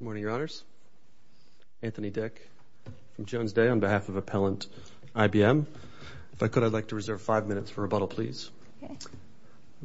Good morning, your honors. Anthony Dick from Jones Day on behalf of Appellant IBM. If I could, I'd like to reserve five minutes for rebuttal, please.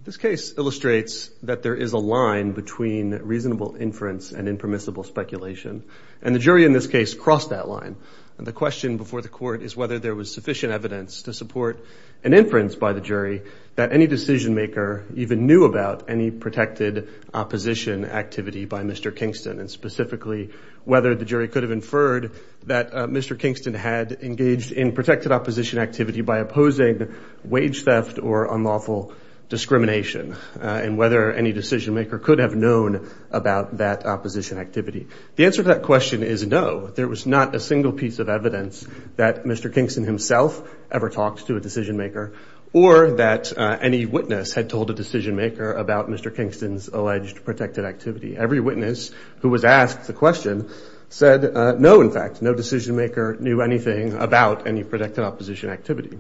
This case illustrates that there is a line between reasonable inference and impermissible speculation. And the jury in this case crossed that line. And the question before the court is whether there was sufficient evidence to support an inference by the jury that any decision maker even knew about any protected opposition activity by Mr. Kingston. And specifically, whether the jury could have inferred that Mr. Kingston had engaged in protected opposition activity by opposing wage theft or unlawful discrimination, and whether any decision maker could have known about that opposition activity. The answer to that question is no, there was not a single piece of evidence that Mr. Kingston himself ever talked to a decision maker, or that any witness had told a decision maker about Mr. Kingston's alleged protected activity. Every witness who was asked the question said no, in fact, no decision maker knew anything about any protected opposition activity.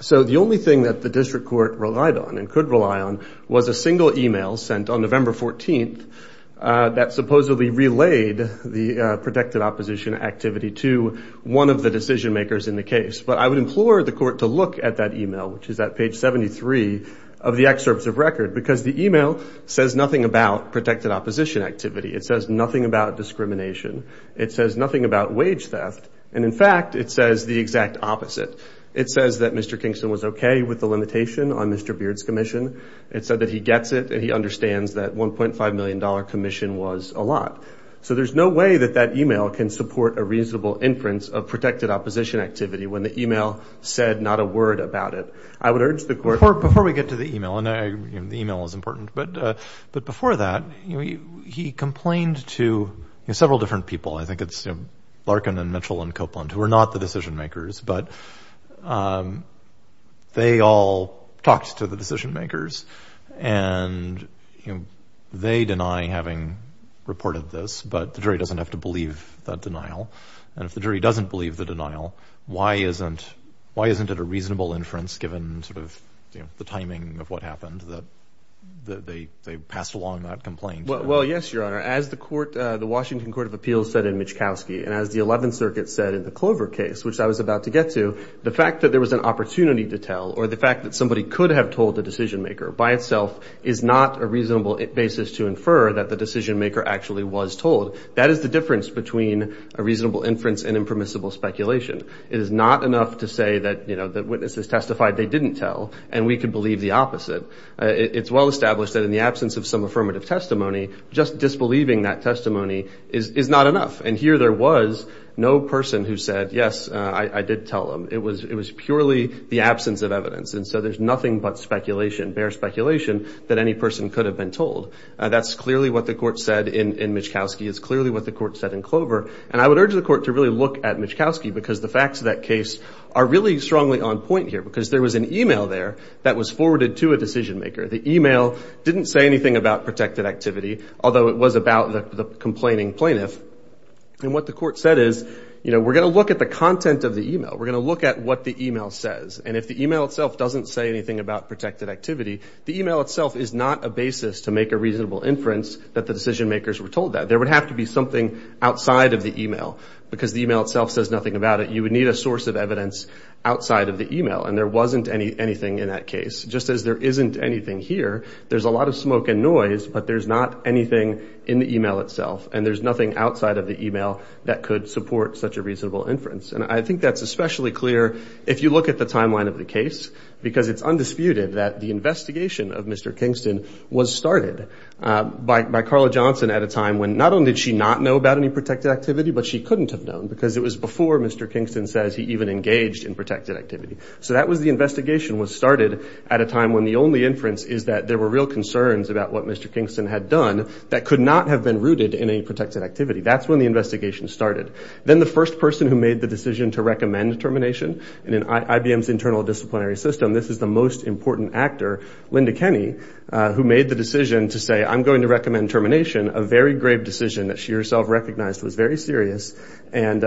So the only thing that the district court relied on and could rely on was a single email sent on November 14th that supposedly relayed the protected opposition activity to one of the decision makers in the case. But I would implore the court to look at that email, which is at page 73 of the excerpts of record, because the email says nothing about protected opposition activity. It says nothing about discrimination. It says nothing about wage theft. And in fact, it says the exact opposite. It says that Mr. Kingston was okay with the limitation on Mr. Beard's commission. It said that he gets it and he understands that $1.5 million commission was a lot. So there's no way that that email can support a reasonable inference of protected opposition activity when the email said not a word about it. I would urge the court- Before we get to the email, and the email is important, but before that, he complained to several different people. I think it's Larkin and Mitchell and Copeland, who were not the decision makers, but they all talked to the decision makers and they deny having reported this, but the jury doesn't have to believe that denial. And if the jury doesn't believe the denial, why isn't it a reasonable inference given sort of the timing of what happened that they passed along that complaint? Well, yes, Your Honor. As the Washington Court of Appeals said in Michkowski, and as the Eleventh Circuit said in the Clover case, which I was about to get to, the fact that there was an opportunity to tell, or the fact that somebody could have told the decision maker by itself is not a reasonable basis to infer that the decision maker actually was told. That is the difference between a reasonable inference and impermissible speculation. It is not enough to say that the witnesses testified they didn't tell, and we can believe the opposite. It's well established that in the absence of some affirmative testimony, just disbelieving that testimony is not enough. And here there was no person who said, yes, I did tell them. It was purely the absence of evidence. And so there's nothing but speculation, bare speculation, that any person could have been told. That's clearly what the court said in Michkowski. It's clearly what the court said in Clover. And I would urge the court to really look at Michkowski, because the facts of that case are really strongly on point here, because there was an email there that was forwarded to a decision maker. The email didn't say anything about protected activity, although it was about the complaining plaintiff. And what the court said is, you know, we're going to look at the content of the email. We're going to look at what the email says. And if the email itself doesn't say anything about protected activity, the email itself is not a basis to make a reasonable inference that the decision makers were told that. There would have to be something outside of the email, because the email itself says nothing about it. You would need a source of evidence outside of the email, and there wasn't anything in that case. Just as there isn't anything here, there's a lot of smoke and noise, but there's not anything in the email itself, and there's nothing outside of the email that could support such a reasonable inference. And I think that's especially clear if you look at the timeline of the case, because it's undisputed that the investigation of Mr. Kingston was started by Carla Johnson at a time when not only did she not know about any protected activity, but she couldn't have known, because it was before Mr. Kingston says he even engaged in protected activity. So that was the investigation was started at a time when the only inference is that there were real concerns about what Mr. Kingston had done that could not have been rooted in any protected activity. That's when the investigation started. Then the first person who made the decision to recommend termination, and in IBM's internal disciplinary system, this is the most important actor, Linda Kenney, who made the decision to say, I'm going to recommend termination, a very grave decision that she herself recognized was very serious, and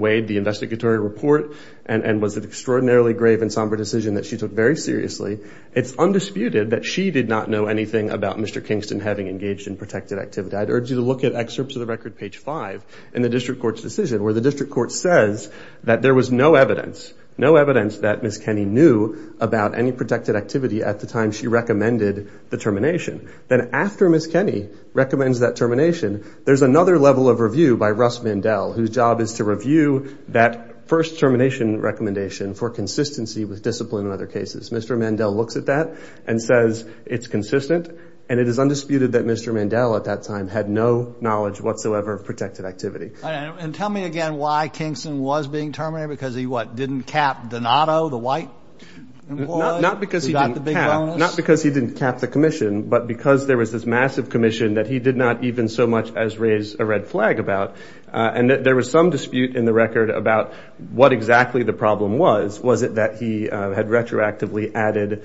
weighed the investigatory report, and was an extraordinarily grave and somber decision that she took very seriously. It's undisputed that she did not know anything about Mr. Kingston having engaged in protected activity. I'd urge you to look at excerpts of the record, page five, in the district court's decision, where the district court says that there was no evidence, no evidence that Ms. Kenney knew about any protected activity at the time she recommended the termination. Then after Ms. Kenney recommends that termination, there's another level of review by Russ Mandel, whose job is to review that first termination recommendation for consistency with discipline in other cases. Mr. Mandel looks at that and says it's consistent, and it is undisputed that Mr. Mandel at that time had no knowledge whatsoever of protected activity. And tell me again why Kingston was being terminated, because he what, didn't cap Donato, the white? Not because he didn't cap, not because he didn't cap the commission, but because there was this massive commission that he did not even so much as raise a red flag about. And there was some dispute in the record about what exactly the problem was. Was it that he had retroactively added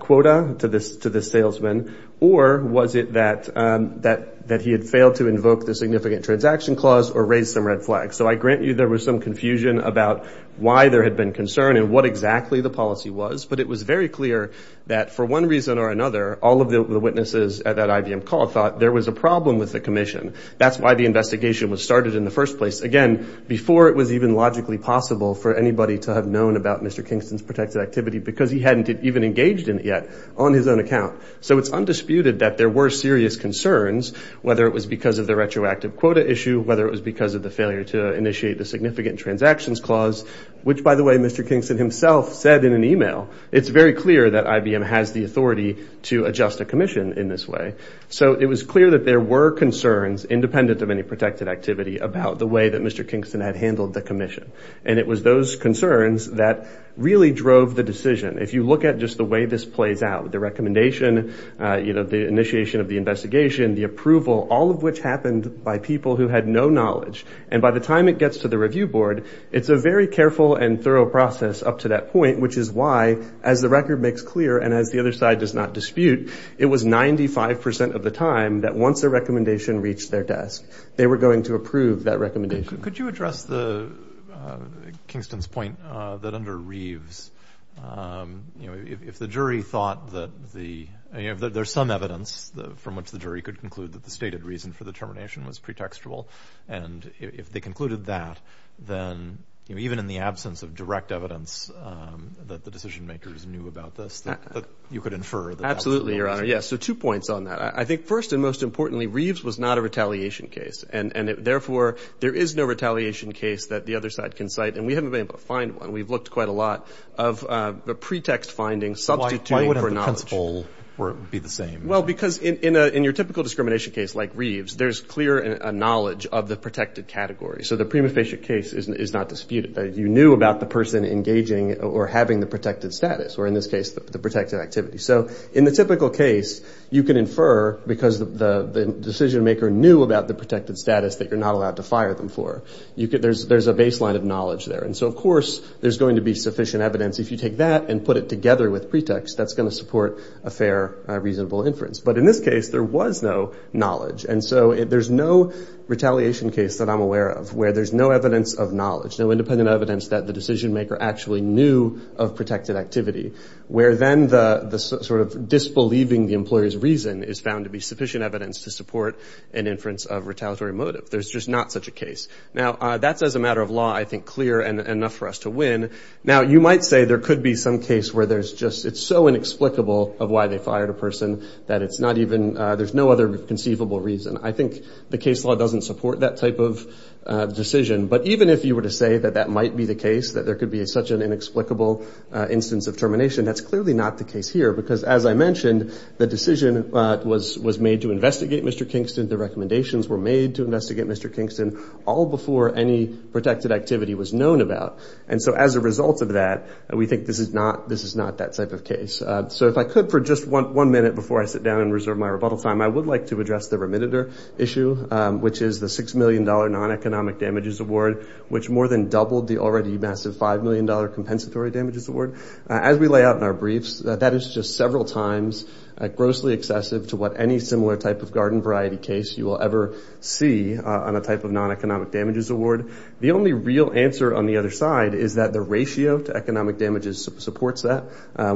quota to this, this salesman, or was it that, that, that he had failed to invoke the significant transaction clause or raise some red flags? So I grant you there was some confusion about why there had been concern and what exactly the policy was, but it was very clear that for one reason or another, all of the witnesses at that IBM call thought there was a problem with the commission. That's why the investigation was started in the first place. Again, before it was even logically possible for anybody to have known about Mr. Kingston's protected activity because he hadn't even engaged in it yet on his own account. So it's undisputed that there were serious concerns, whether it was because of the retroactive quota issue, whether it was because of the failure to initiate the significant transactions clause, which by the way, Mr. Kingston himself said in an email, it's very clear that IBM has the authority to adjust a commission in this way. So it was clear that there were concerns independent of any protected activity about the way that Mr. Kingston had handled the commission. And it was those concerns that really drove the decision. If you look at just the way this plays out, the recommendation, the initiation of the investigation, the approval, all of which happened by people who had no knowledge. And by the time it gets to the review board, it's a very careful and thorough process up to that point, which is why, as the record makes clear and as the other side does not dispute, it was 95% of the time that once the recommendation reached their desk, they were going to approve that recommendation. Could you address Kingston's point that under Reeves, if the jury thought that there's some evidence from which the jury could conclude that the stated reason for the termination was pretextual, and if they concluded that, then even in the absence of direct evidence that the decision makers knew about this, that you could infer that that was the reason? Absolutely, Your Honor. Yes. So two points on that. I think first and most importantly, Reeves was not a retaliation case, and therefore, there is no retaliation case that the other side can cite, and we haven't been able to find one. We've looked quite a lot of pretext findings, substituting for knowledge. Why wouldn't the principle be the same? Well, because in your typical discrimination case like Reeves, there's clear knowledge of the protected category. So the prima facie case is not disputed. You knew about the person engaging or having the protected status, or in this case, the protected activity. So in the typical case, you can infer because the decision maker knew about the protected status that you're not allowed to fire them for. There's a baseline of knowledge there, and so of course, there's going to be sufficient evidence. If you take that and put it together with pretext, that's going to support a fair, reasonable inference. But in this case, there was no knowledge, and so there's no retaliation case that I'm aware of where there's no evidence of knowledge, no independent evidence that the decision maker actually knew of protected activity, where then the sort of disbelieving the employer's reason is found to be sufficient evidence to support an inference of retaliatory motive. There's just not such a case. Now, that's as a matter of law, I think, clear and enough for us to win. Now, you might say there could be some case where there's just, it's so inexplicable of why they fired a person that it's not even, there's no other conceivable reason. I think the case law doesn't support that type of decision, but even if you were to say that that might be the case, that there could be such an inexplicable instance of termination, that's clearly not the case here, because as I mentioned, the decision was made to investigate Mr. Kingston, the recommendations were made to investigate Mr. Kingston, all before any protected activity was known about. And so as a result of that, we think this is not that type of case. So if I could for just one minute before I sit down and reserve my rebuttal time, I would like to address the remitter issue, which is the $6 million non-economic damages award, which more than likely is the already massive $5 million compensatory damages award. As we lay out in our briefs, that is just several times grossly excessive to what any similar type of garden variety case you will ever see on a type of non-economic damages award. The only real answer on the other side is that the ratio to economic damages supports that.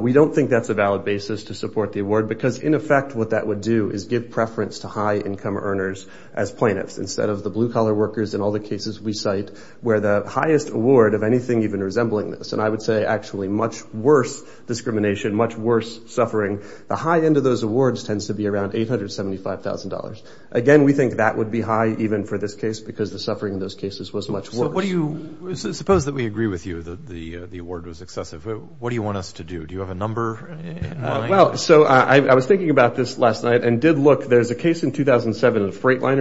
We don't think that's a valid basis to support the award, because in effect what that would do is give preference to high income earners as plaintiffs, instead of the blue collar workers in all the cases we cite, where the highest award of anything even resembling this, and I would say actually much worse discrimination, much worse suffering, the high end of those awards tends to be around $875,000. Again, we think that would be high even for this case, because the suffering in those cases was much worse. So what do you, suppose that we agree with you that the award was excessive, what do you want us to do? Do you have a number in mind? So I was thinking about this last night and did look, there's a case in 2007, a freight liner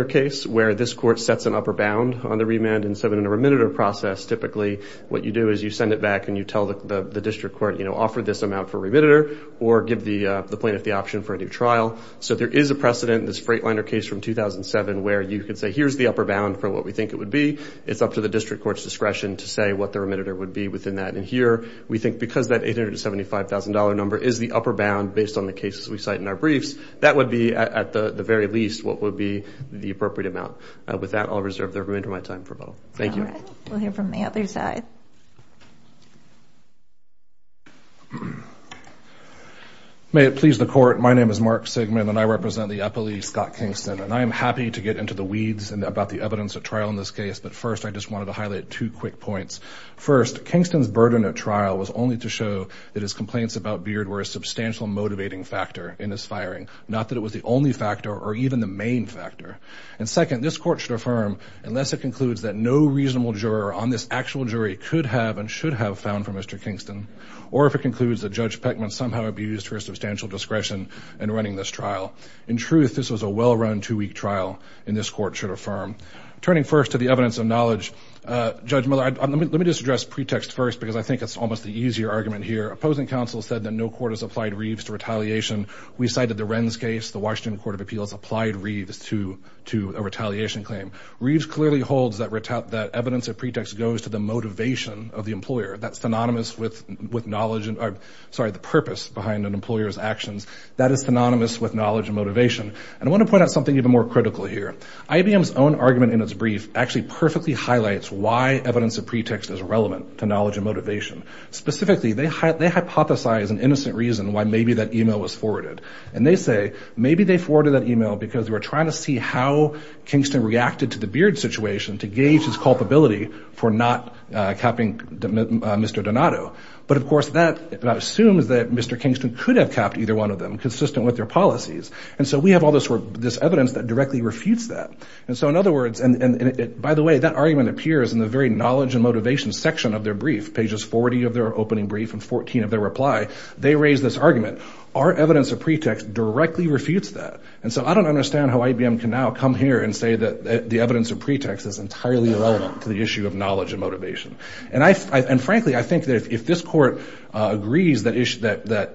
bound on the remand in the remitter process, typically what you do is you send it back and you tell the district court, offer this amount for remitter, or give the plaintiff the option for a new trial. So there is a precedent, this freight liner case from 2007, where you could say here's the upper bound for what we think it would be, it's up to the district court's discretion to say what the remitter would be within that, and here we think because that $875,000 number is the upper bound based on the cases we cite in our briefs, that would be at the very least what would be the appropriate amount. With that, I'll reserve the remainder of my time for both. Thank you. All right. We'll hear from the other side. May it please the court, my name is Mark Sigmund and I represent the Eppley Scott Kingston, and I am happy to get into the weeds about the evidence at trial in this case, but first, I just wanted to highlight two quick points. First, Kingston's burden at trial was only to show that his complaints about Beard were a substantial motivating factor in his firing, not that it was the only factor or even the only factor that this court should affirm unless it concludes that no reasonable juror on this actual jury could have and should have found for Mr. Kingston, or if it concludes that Judge Peckman somehow abused her substantial discretion in running this trial. In truth, this was a well-run two-week trial, and this court should affirm. Turning first to the evidence of knowledge, Judge Miller, let me just address pretext first because I think it's almost the easier argument here. Opposing counsel said that no court has applied Reeves to retaliation. We cited the Wren's case. The Washington Court of Appeals applied Reeves to a retaliation claim. Reeves clearly holds that evidence of pretext goes to the motivation of the employer. That's synonymous with the purpose behind an employer's actions. That is synonymous with knowledge and motivation, and I want to point out something even more critical here. IBM's own argument in its brief actually perfectly highlights why evidence of pretext is relevant to knowledge and motivation. Specifically, they hypothesize an innocent reason why maybe that email was forwarded, and they say maybe they forwarded that email because they were trying to see how Kingston reacted to the Beard situation to gauge his culpability for not capping Mr. Donato. But of course, that assumes that Mr. Kingston could have capped either one of them consistent with their policies, and so we have all this evidence that directly refutes that. By the way, that argument appears in the very knowledge and motivation section of their opening brief and 14 of their reply. They raise this argument. Our evidence of pretext directly refutes that, and so I don't understand how IBM can now come here and say that the evidence of pretext is entirely irrelevant to the issue of knowledge and motivation. Frankly, I think that if this Court agrees that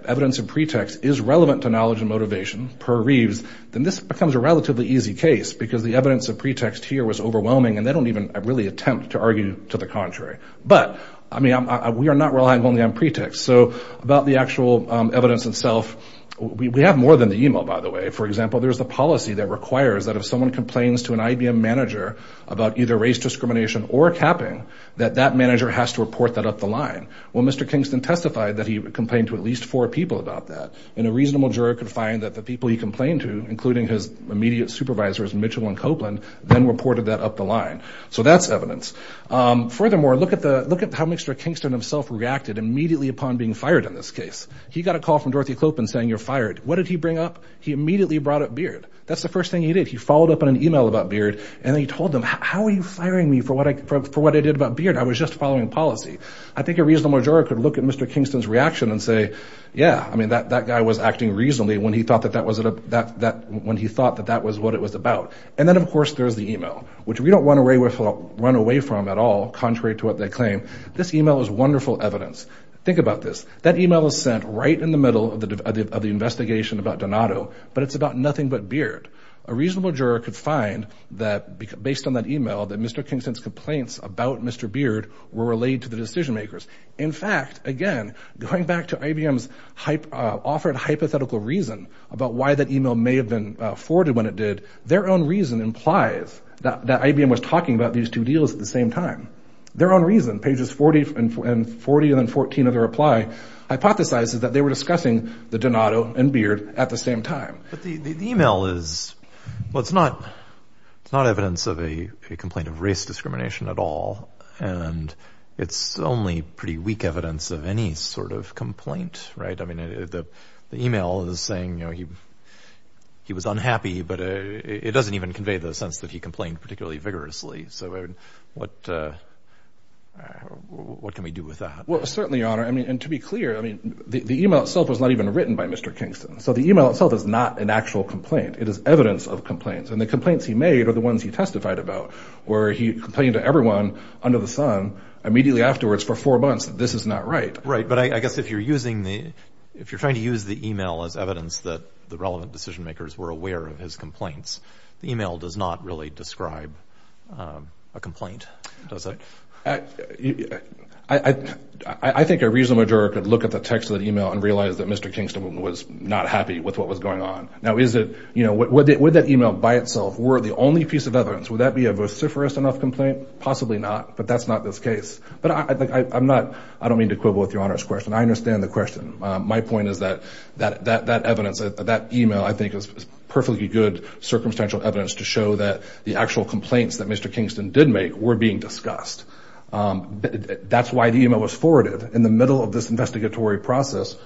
evidence of pretext is relevant to knowledge and motivation per Reeves, then this becomes a relatively easy case because the evidence of pretext here was overwhelming, and they don't even really attempt to argue to the contrary. But we are not relying only on pretext. So about the actual evidence itself, we have more than the email, by the way. For example, there's a policy that requires that if someone complains to an IBM manager about either race discrimination or capping, that that manager has to report that up the line. Well, Mr. Kingston testified that he complained to at least four people about that, and a reasonable juror could find that the people he complained to, including his immediate supervisors, Mitchell and Copeland, then reported that up the line. So that's evidence. Furthermore, look at how Mr. Kingston himself reacted immediately upon being fired in this case. He got a call from Dorothy Clopin saying, you're fired. What did he bring up? He immediately brought up Beard. That's the first thing he did. He followed up on an email about Beard, and he told them, how are you firing me for what I did about Beard? I was just following policy. I think a reasonable juror could look at Mr. Kingston's reaction and say, yeah, I mean, that guy was acting reasonably when he thought that that was what it was about. And then, of course, there's the email, which we don't want to run away from at all, contrary to what they claim. This email is wonderful evidence. Think about this. That email was sent right in the middle of the investigation about Donato, but it's about nothing but Beard. A reasonable juror could find that, based on that email, that Mr. Kingston's complaints about Mr. Beard were relayed to the decision makers. In fact, again, going back to IBM's offered hypothetical reason about why that email may have been forwarded when it did, their own reason implies that IBM was talking about these two deals at the same time. Their own reason, pages 40 and 14 of their reply, hypothesizes that they were discussing the Donato and Beard at the same time. But the email is, well, it's not evidence of a complaint of race discrimination at all, and it's only pretty weak evidence of any sort of complaint, right? The email is saying he was unhappy, but it doesn't even convey the sense that he complained particularly vigorously. So what can we do with that? Well, certainly, Your Honor. And to be clear, the email itself was not even written by Mr. Kingston. So the email itself is not an actual complaint. It is evidence of complaints. And the complaints he made are the ones he testified about, where he complained to everyone under the sun immediately afterwards for four months that this is not right. Right. But I guess if you're using the, if you're trying to use the email as evidence that the relevant decision makers were aware of his complaints, the email does not really describe a complaint, does it? I think a reasonable juror could look at the text of the email and realize that Mr. Kingston was not happy with what was going on. Now, is it, you know, would that email by itself were the only piece of evidence? Would that be a vociferous enough complaint? Possibly not. But that's not this case. But I'm not, I don't mean to quibble with Your Honor's question. I understand the question. My point is that that evidence, that email, I think is perfectly good circumstantial evidence to show that the actual complaints that Mr. Kingston did make were being discussed. That's why the email was forwarded in the middle of this investigatory process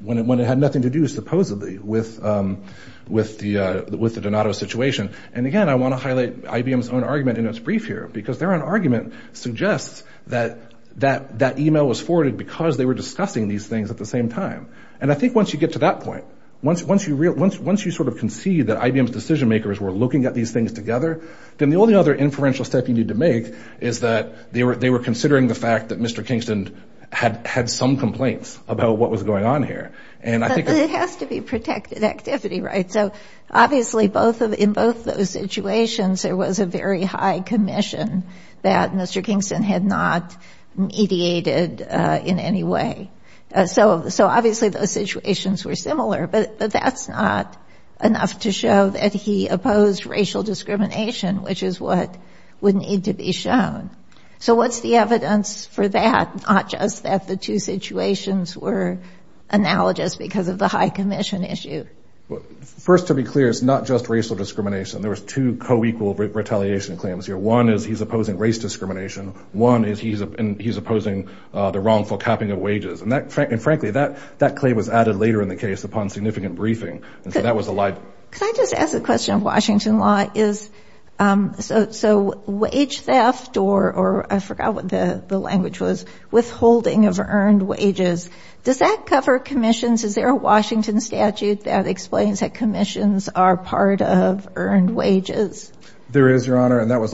when it had nothing to do, supposedly, with the Donato situation. And again, I want to highlight IBM's own argument in its brief here, because their own argument suggests that that email was forwarded because they were discussing these things at the same time. And I think once you get to that point, once you sort of concede that IBM's decision makers were looking at these things together, then the only other inferential step you need to make is that they were considering the fact that Mr. Kingston had some complaints about what was going on here. But it has to be protected activity, right? So obviously, in both those situations, there was a very high commission that Mr. Kingston had not mediated in any way. So obviously, those situations were similar, but that's not enough to show that he opposed racial discrimination, which is what would need to be shown. So what's the evidence for that, not just that the two situations were analogous because of the high commission issue? First, to be clear, it's not just racial discrimination. There was two co-equal retaliation claims here. One is he's opposing race discrimination. One is he's opposing the wrongful capping of wages. And frankly, that claim was added later in the case upon significant briefing, and so that was a lie. Can I just ask a question of Washington law? So wage theft, or I forgot what the language was, withholding of earned wages, does that cover commissions? Is there a Washington statute that explains that commissions are part of earned wages? There is, Your Honor, and that was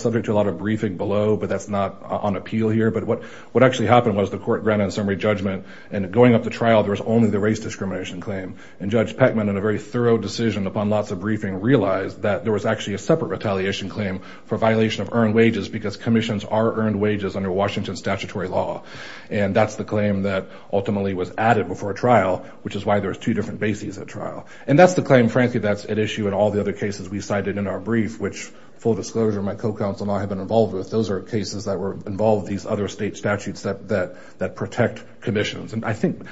subject to a lot of briefing below, but that's not on appeal here. But what actually happened was the court granted a summary judgment, and going up to trial, there was only the race discrimination claim. And Judge Peckman, in a very thorough decision upon lots of briefing, realized that there was actually a separate retaliation claim for violation of earned wages because commissions are earned wages under Washington statutory law. And that's the claim that ultimately was added before trial, which is why there's two different bases at trial. And that's the claim, frankly, that's at issue in all the other cases we cited in our brief, which, full disclosure, my co-counsel and I have been involved with. Those are cases that were involved with these other state statutes that protect commissions. And I think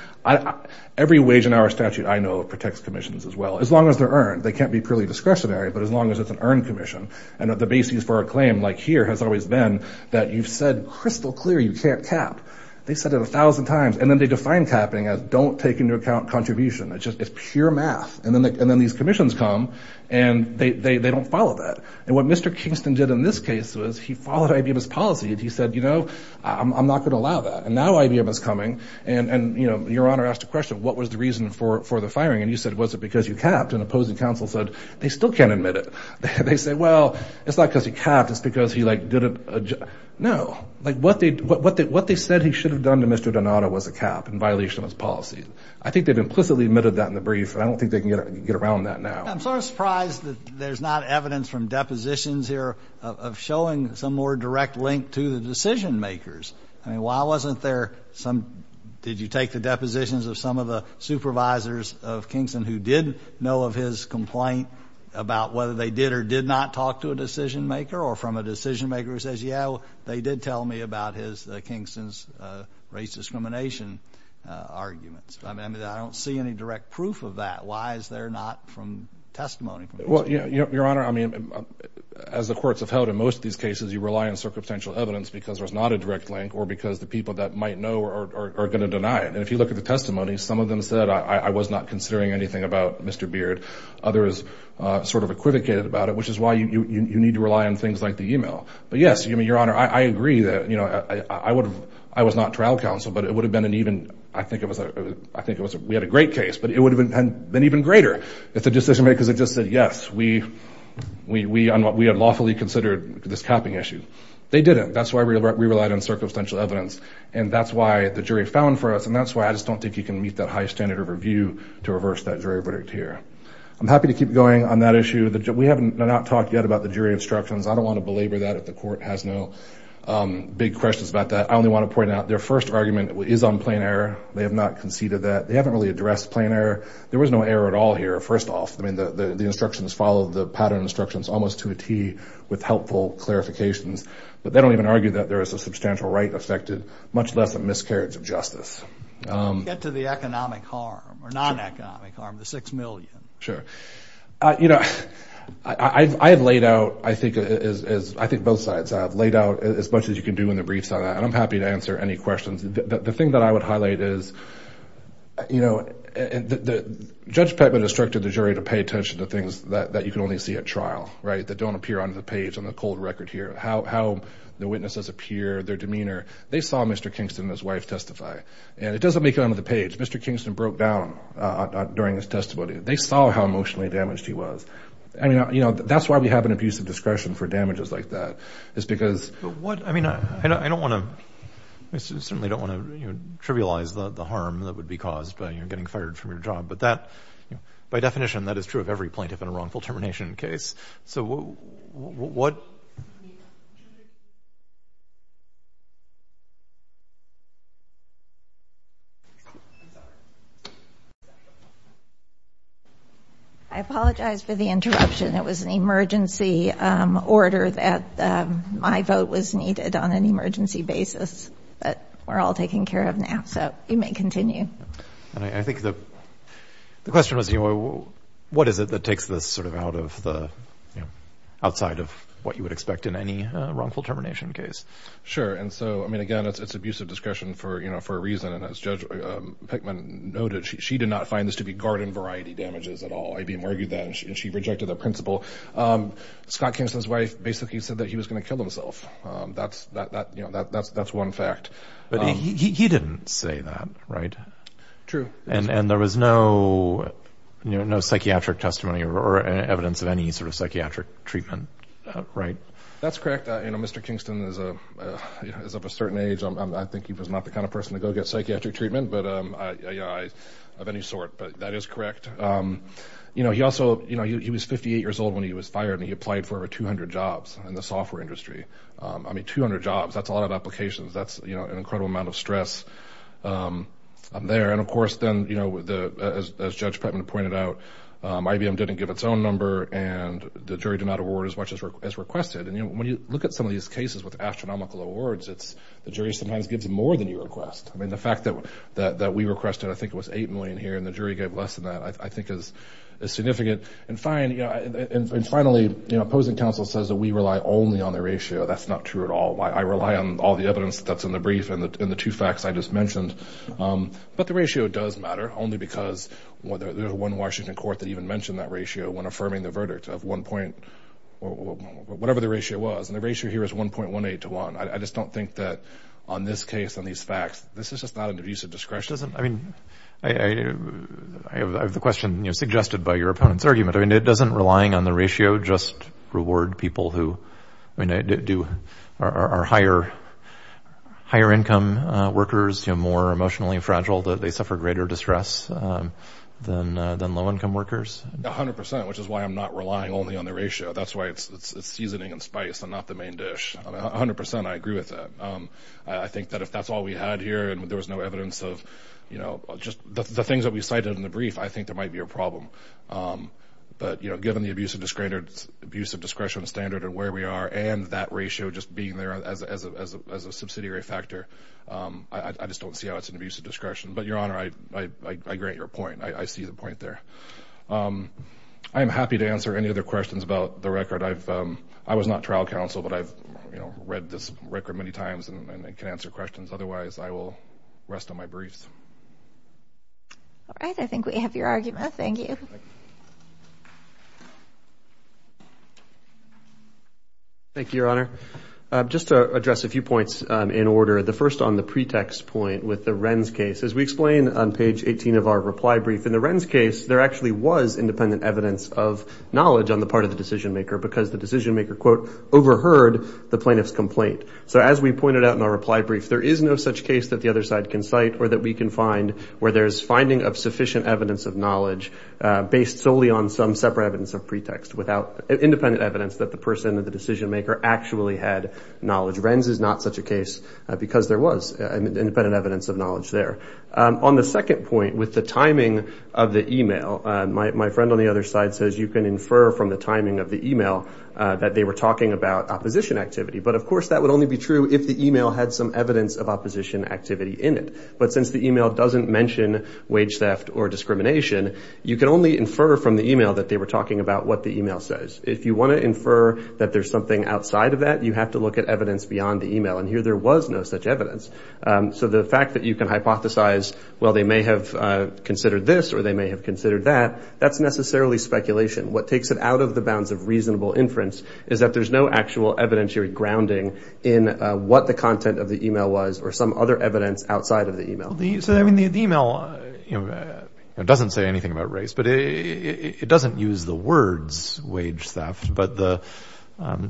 every wage in our statute, I know, protects commissions as well, as long as they're earned. They can't be purely discretionary, but as long as it's an earned commission. And the basis for a claim like here has always been that you've said crystal clear you can't cap. They said it a thousand times. And then they define capping as don't take into account contribution. It's just, it's pure math. And then these commissions come, and they don't follow that. And what Mr. Kingston did in this case was he followed IBM's policy. And he said, you know, I'm not going to allow that. And now IBM is coming. And, you know, Your Honor asked a question, what was the reason for the firing? And you said, was it because you capped? And opposing counsel said, they still can't admit it. They say, well, it's not because he capped, it's because he, like, didn't, no. Like, what they, what they said he should have done to Mr. Donato was a cap in violation of his policy. I think they've implicitly admitted that in the brief, and I don't think they can get around that now. I'm sort of surprised that there's not evidence from depositions here of showing some more direct link to the decision makers. I mean, why wasn't there some, did you take the depositions of some of the supervisors of Kingston who did know of his complaint about whether they did or did not talk to a decision maker or from a decision maker who says, yeah, they did tell me about his, Kingston's race discrimination arguments. I mean, I don't see any direct proof of that. Why is there not from testimony? Well, yeah, Your Honor, I mean, as the courts have held in most of these cases, you rely on circumstantial evidence because there's not a direct link or because the people that might know are going to deny it. And if you look at the testimony, some of them said, I was not considering anything about Mr. Beard. Others sort of equivocated about it, which is why you need to rely on things like the email. But yes, I mean, Your Honor, I agree that, you know, I would have, I was not trial counsel, but it would have been an even, I think it was, I think it was, we had a great case, but it would have been even greater if the decision makers had just said, yes, we had lawfully considered this capping issue. They didn't. That's why we relied on circumstantial evidence. And that's why the jury found for us. And that's why I just don't think you can meet that high standard of review to reverse that jury verdict here. I'm happy to keep going on that issue. We have not talked yet about the jury instructions. I don't want to belabor that if the court has no big questions about that. I only want to point out their first argument is on plain error. They have not conceded that. They haven't really addressed plain error. There was no error at all here. First off, I mean, the instructions follow the pattern instructions almost to a T with helpful clarifications. But they don't even argue that there is a substantial right affected, much less a miscarriage of justice. Get to the economic harm or non-economic harm, the six million. Sure. You know, I have laid out, I think, as I think both sides have laid out as much as you can do in the briefs on that. And I'm happy to answer any questions. The thing that I would highlight is, you know, Judge Peckman instructed the jury to pay attention to things that you can only see at trial, right, that don't appear on the page on the cold record here, how the witnesses appear, their demeanor. They saw Mr. Kingston and his wife testify. And it doesn't make it onto the page. Mr. Kingston broke down during his testimony. They saw how emotionally damaged he was. I mean, you know, that's why we have an abuse of discretion for damages like that is because what I mean, I don't want to, I certainly don't want to trivialize the harm that would be caused by getting fired from your job. But that by definition, that is true of every plaintiff in a wrongful termination case. So what? I apologize for the interruption. It was an emergency order that my vote was needed on an emergency basis. But we're all taken care of now. So you may continue. And I think the question was, you know, what is it that takes this sort of out of the outside of what you would expect in any wrongful termination case? Sure. And so, I mean, again, it's abuse of discretion for, you know, for a reason. And as Judge Pickman noted, she did not find this to be garden variety damages at all. IBM argued that and she rejected that principle. Scott Kingston's wife basically said that he was going to kill himself. That's, you know, that's one fact. But he didn't say that, right? True. And there was no psychiatric testimony or evidence of any sort of psychiatric treatment, right? That's correct. You know, Mr. Kingston is of a certain age. I think he was not the kind of person to go get psychiatric treatment of any sort. But that is correct. You know, he also, you know, he was 58 years old when he was fired. And he applied for over 200 jobs in the software industry. I mean, 200 jobs, that's a lot of applications. That's, you know, an incredible amount of stress there. And of course, then, you know, as Judge Pickman pointed out, IBM didn't give its own number. And the jury did not award as much as requested. And, you know, when you look at some of these cases with astronomical awards, it's the jury sometimes gives more than you request. I mean, the fact that we requested, I think it was 8 million here, and the jury gave less than that, I think is significant. And finally, you know, opposing counsel says that we rely only on the ratio. That's not true at all. I rely on all the evidence that's in the brief and the two facts I just mentioned. But the ratio does matter, only because there's one Washington court that even mentioned that ratio when affirming the verdict of one point, whatever the ratio was. And the ratio here is 1.18 to 1. I just don't think that on this case, on these facts, this is just not an abuse of discretion. I mean, I have the question, you know, suggested by your opponent's argument. I mean, it doesn't relying on the ratio just reward people who, I mean, are higher-income workers, you know, more emotionally fragile, that they suffer greater distress than low-income workers. 100%, which is why I'm not relying only on the ratio. That's why it's seasoning and spice and not the main dish. 100%, I agree with that. I think that if that's all we had here and there was no evidence of, you know, just the things that we cited in the brief, I think there might be a problem. But, you know, given the abuse of discretion standard and where we are and that ratio just being there as a subsidiary factor, I just don't see how it's an abuse of discretion. But, Your Honor, I agree with your point. I see the point there. I am happy to answer any other questions about the record. I've, I was not trial counsel, but I've, you know, read this record many times and can answer questions. Otherwise, I will rest on my briefs. All right. I think we have your argument. Thank you. Thank you, Your Honor. Just to address a few points in order. The first on the pretext point with the Wren's case. As we explain on page 18 of our reply brief, in the Wren's case, there actually was independent evidence of knowledge on the part of the decision maker because the decision maker, quote, overheard the plaintiff's complaint. there is no such case that the other side can cite or that we can find where there's finding of sufficient evidence of knowledge based solely on some separate evidence of pretext without independent evidence that the person or the decision maker actually had knowledge. Wren's is not such a case because there was independent evidence of knowledge there. On the second point with the timing of the email, my friend on the other side says you can infer from the timing of the email that they were talking about opposition activity. But, of course, that would only be true if the email had some evidence of opposition activity in it. But since the email doesn't mention wage theft or discrimination, you can only infer from the email that they were talking about what the email says. If you want to infer that there's something outside of that, you have to look at evidence beyond the email. And here there was no such evidence. So the fact that you can hypothesize, well, they may have considered this or they may have considered that, that's necessarily speculation. What takes it out of the bounds of reasonable inference is that there's no actual evidentiary grounding in what the content of the email was or some other evidence outside of the email. So, I mean, the email doesn't say anything about race, but it doesn't use the words wage theft. But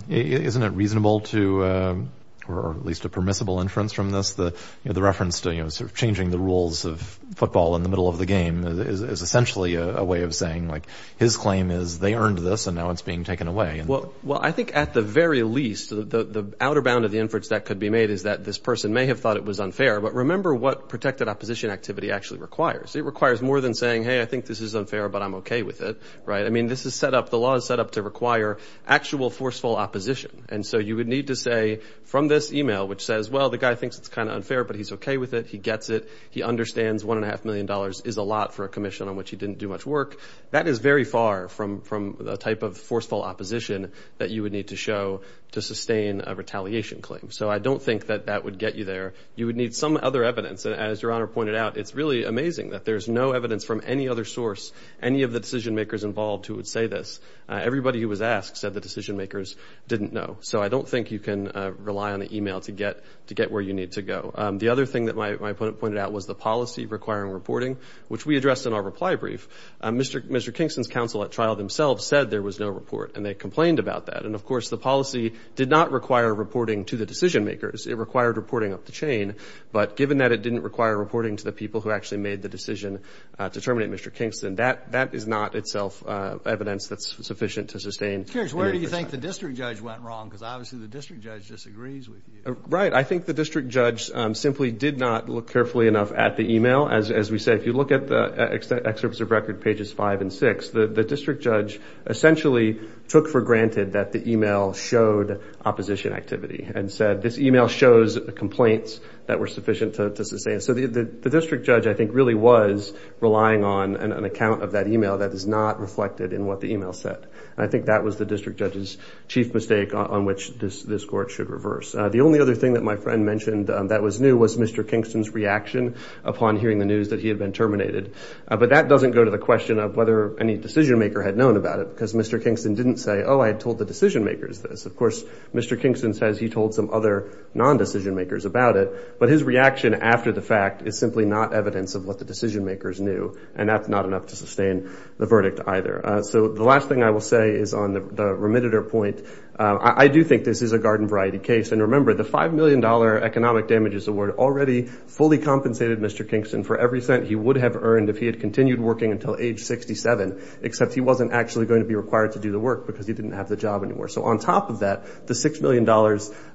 isn't it reasonable to, or at least a permissible inference from this, the reference to changing the rules of football in the middle of the game is essentially a way of saying, like, his claim is they earned this and now it's being taken away. Well, I think at the very least, the outer bound of the inference that could be made is that this person may have thought it was unfair, but remember what protected opposition activity actually requires. It requires more than saying, hey, I think this is unfair, but I'm okay with it. Right? I mean, this is set up, the law is set up to require actual forceful opposition. And so you would need to say from this email, which says, well, the guy thinks it's kind of unfair, but he's okay with it. He gets it. He understands one and a half million dollars is a lot for a commission on which he didn't do much work. That is very far from the type of forceful opposition that you would need to show to sustain a retaliation claim. So I don't think that that would get you there. You would need some other evidence. As Your Honor pointed out, it's really amazing that there's no evidence from any other source, any of the decision makers involved who would say this. Everybody who was asked said the decision makers didn't know. So I don't think you can rely on the email to get where you need to go. The other thing that my opponent pointed out was the policy requiring reporting, which we addressed in our reply brief. Mr. Kingston's counsel at trial themselves said there was no report, and they complained about that. And of course, the policy did not require reporting to the decision makers. It required reporting up the chain. But given that it didn't require reporting to the people who actually made the decision to terminate Mr. Kingston, that is not itself evidence that's sufficient to sustain. Judge, where do you think the district judge went wrong? Because obviously the district judge disagrees with you. Right. I think the district judge simply did not look carefully enough at the email. As we say, if you look at the excerpts of record pages five and six, the district judge essentially took for granted that the email showed opposition activity and said, this email shows complaints that were sufficient to sustain. So the district judge, I think, really was relying on an account of that email that is not reflected in what the email said. And I think that was the district judge's chief mistake on which this court should reverse. The only other thing that my friend mentioned that was new was Mr. Kingston's reaction upon hearing the news that he had been terminated. But that doesn't go to the question of whether any decision maker had known about it. Because Mr. Kingston didn't say, oh, I had told the decision makers this. Of course, Mr. Kingston says he told some other non-decision makers about it. But his reaction after the fact is simply not evidence of what the decision makers knew. And that's not enough to sustain the verdict either. So the last thing I will say is on the remitter point. I do think this is a garden variety case. And remember, the $5 million Economic Damages Award already fully compensated Mr. Kingston for every cent he would have earned if he had continued working until age 67, except he wasn't actually going to be required to do the work because he didn't have the job anymore. So on top of that, the $6 million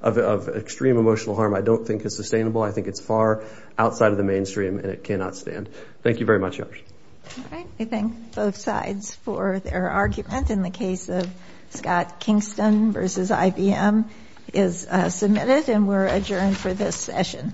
of extreme emotional harm I don't think is sustainable. I think it's far outside of the mainstream. And it cannot stand. Thank you very much, Yash. All right. I thank both sides for their argument in the case of Scott Kingston versus IBM. Is submitted and we're adjourned for this session.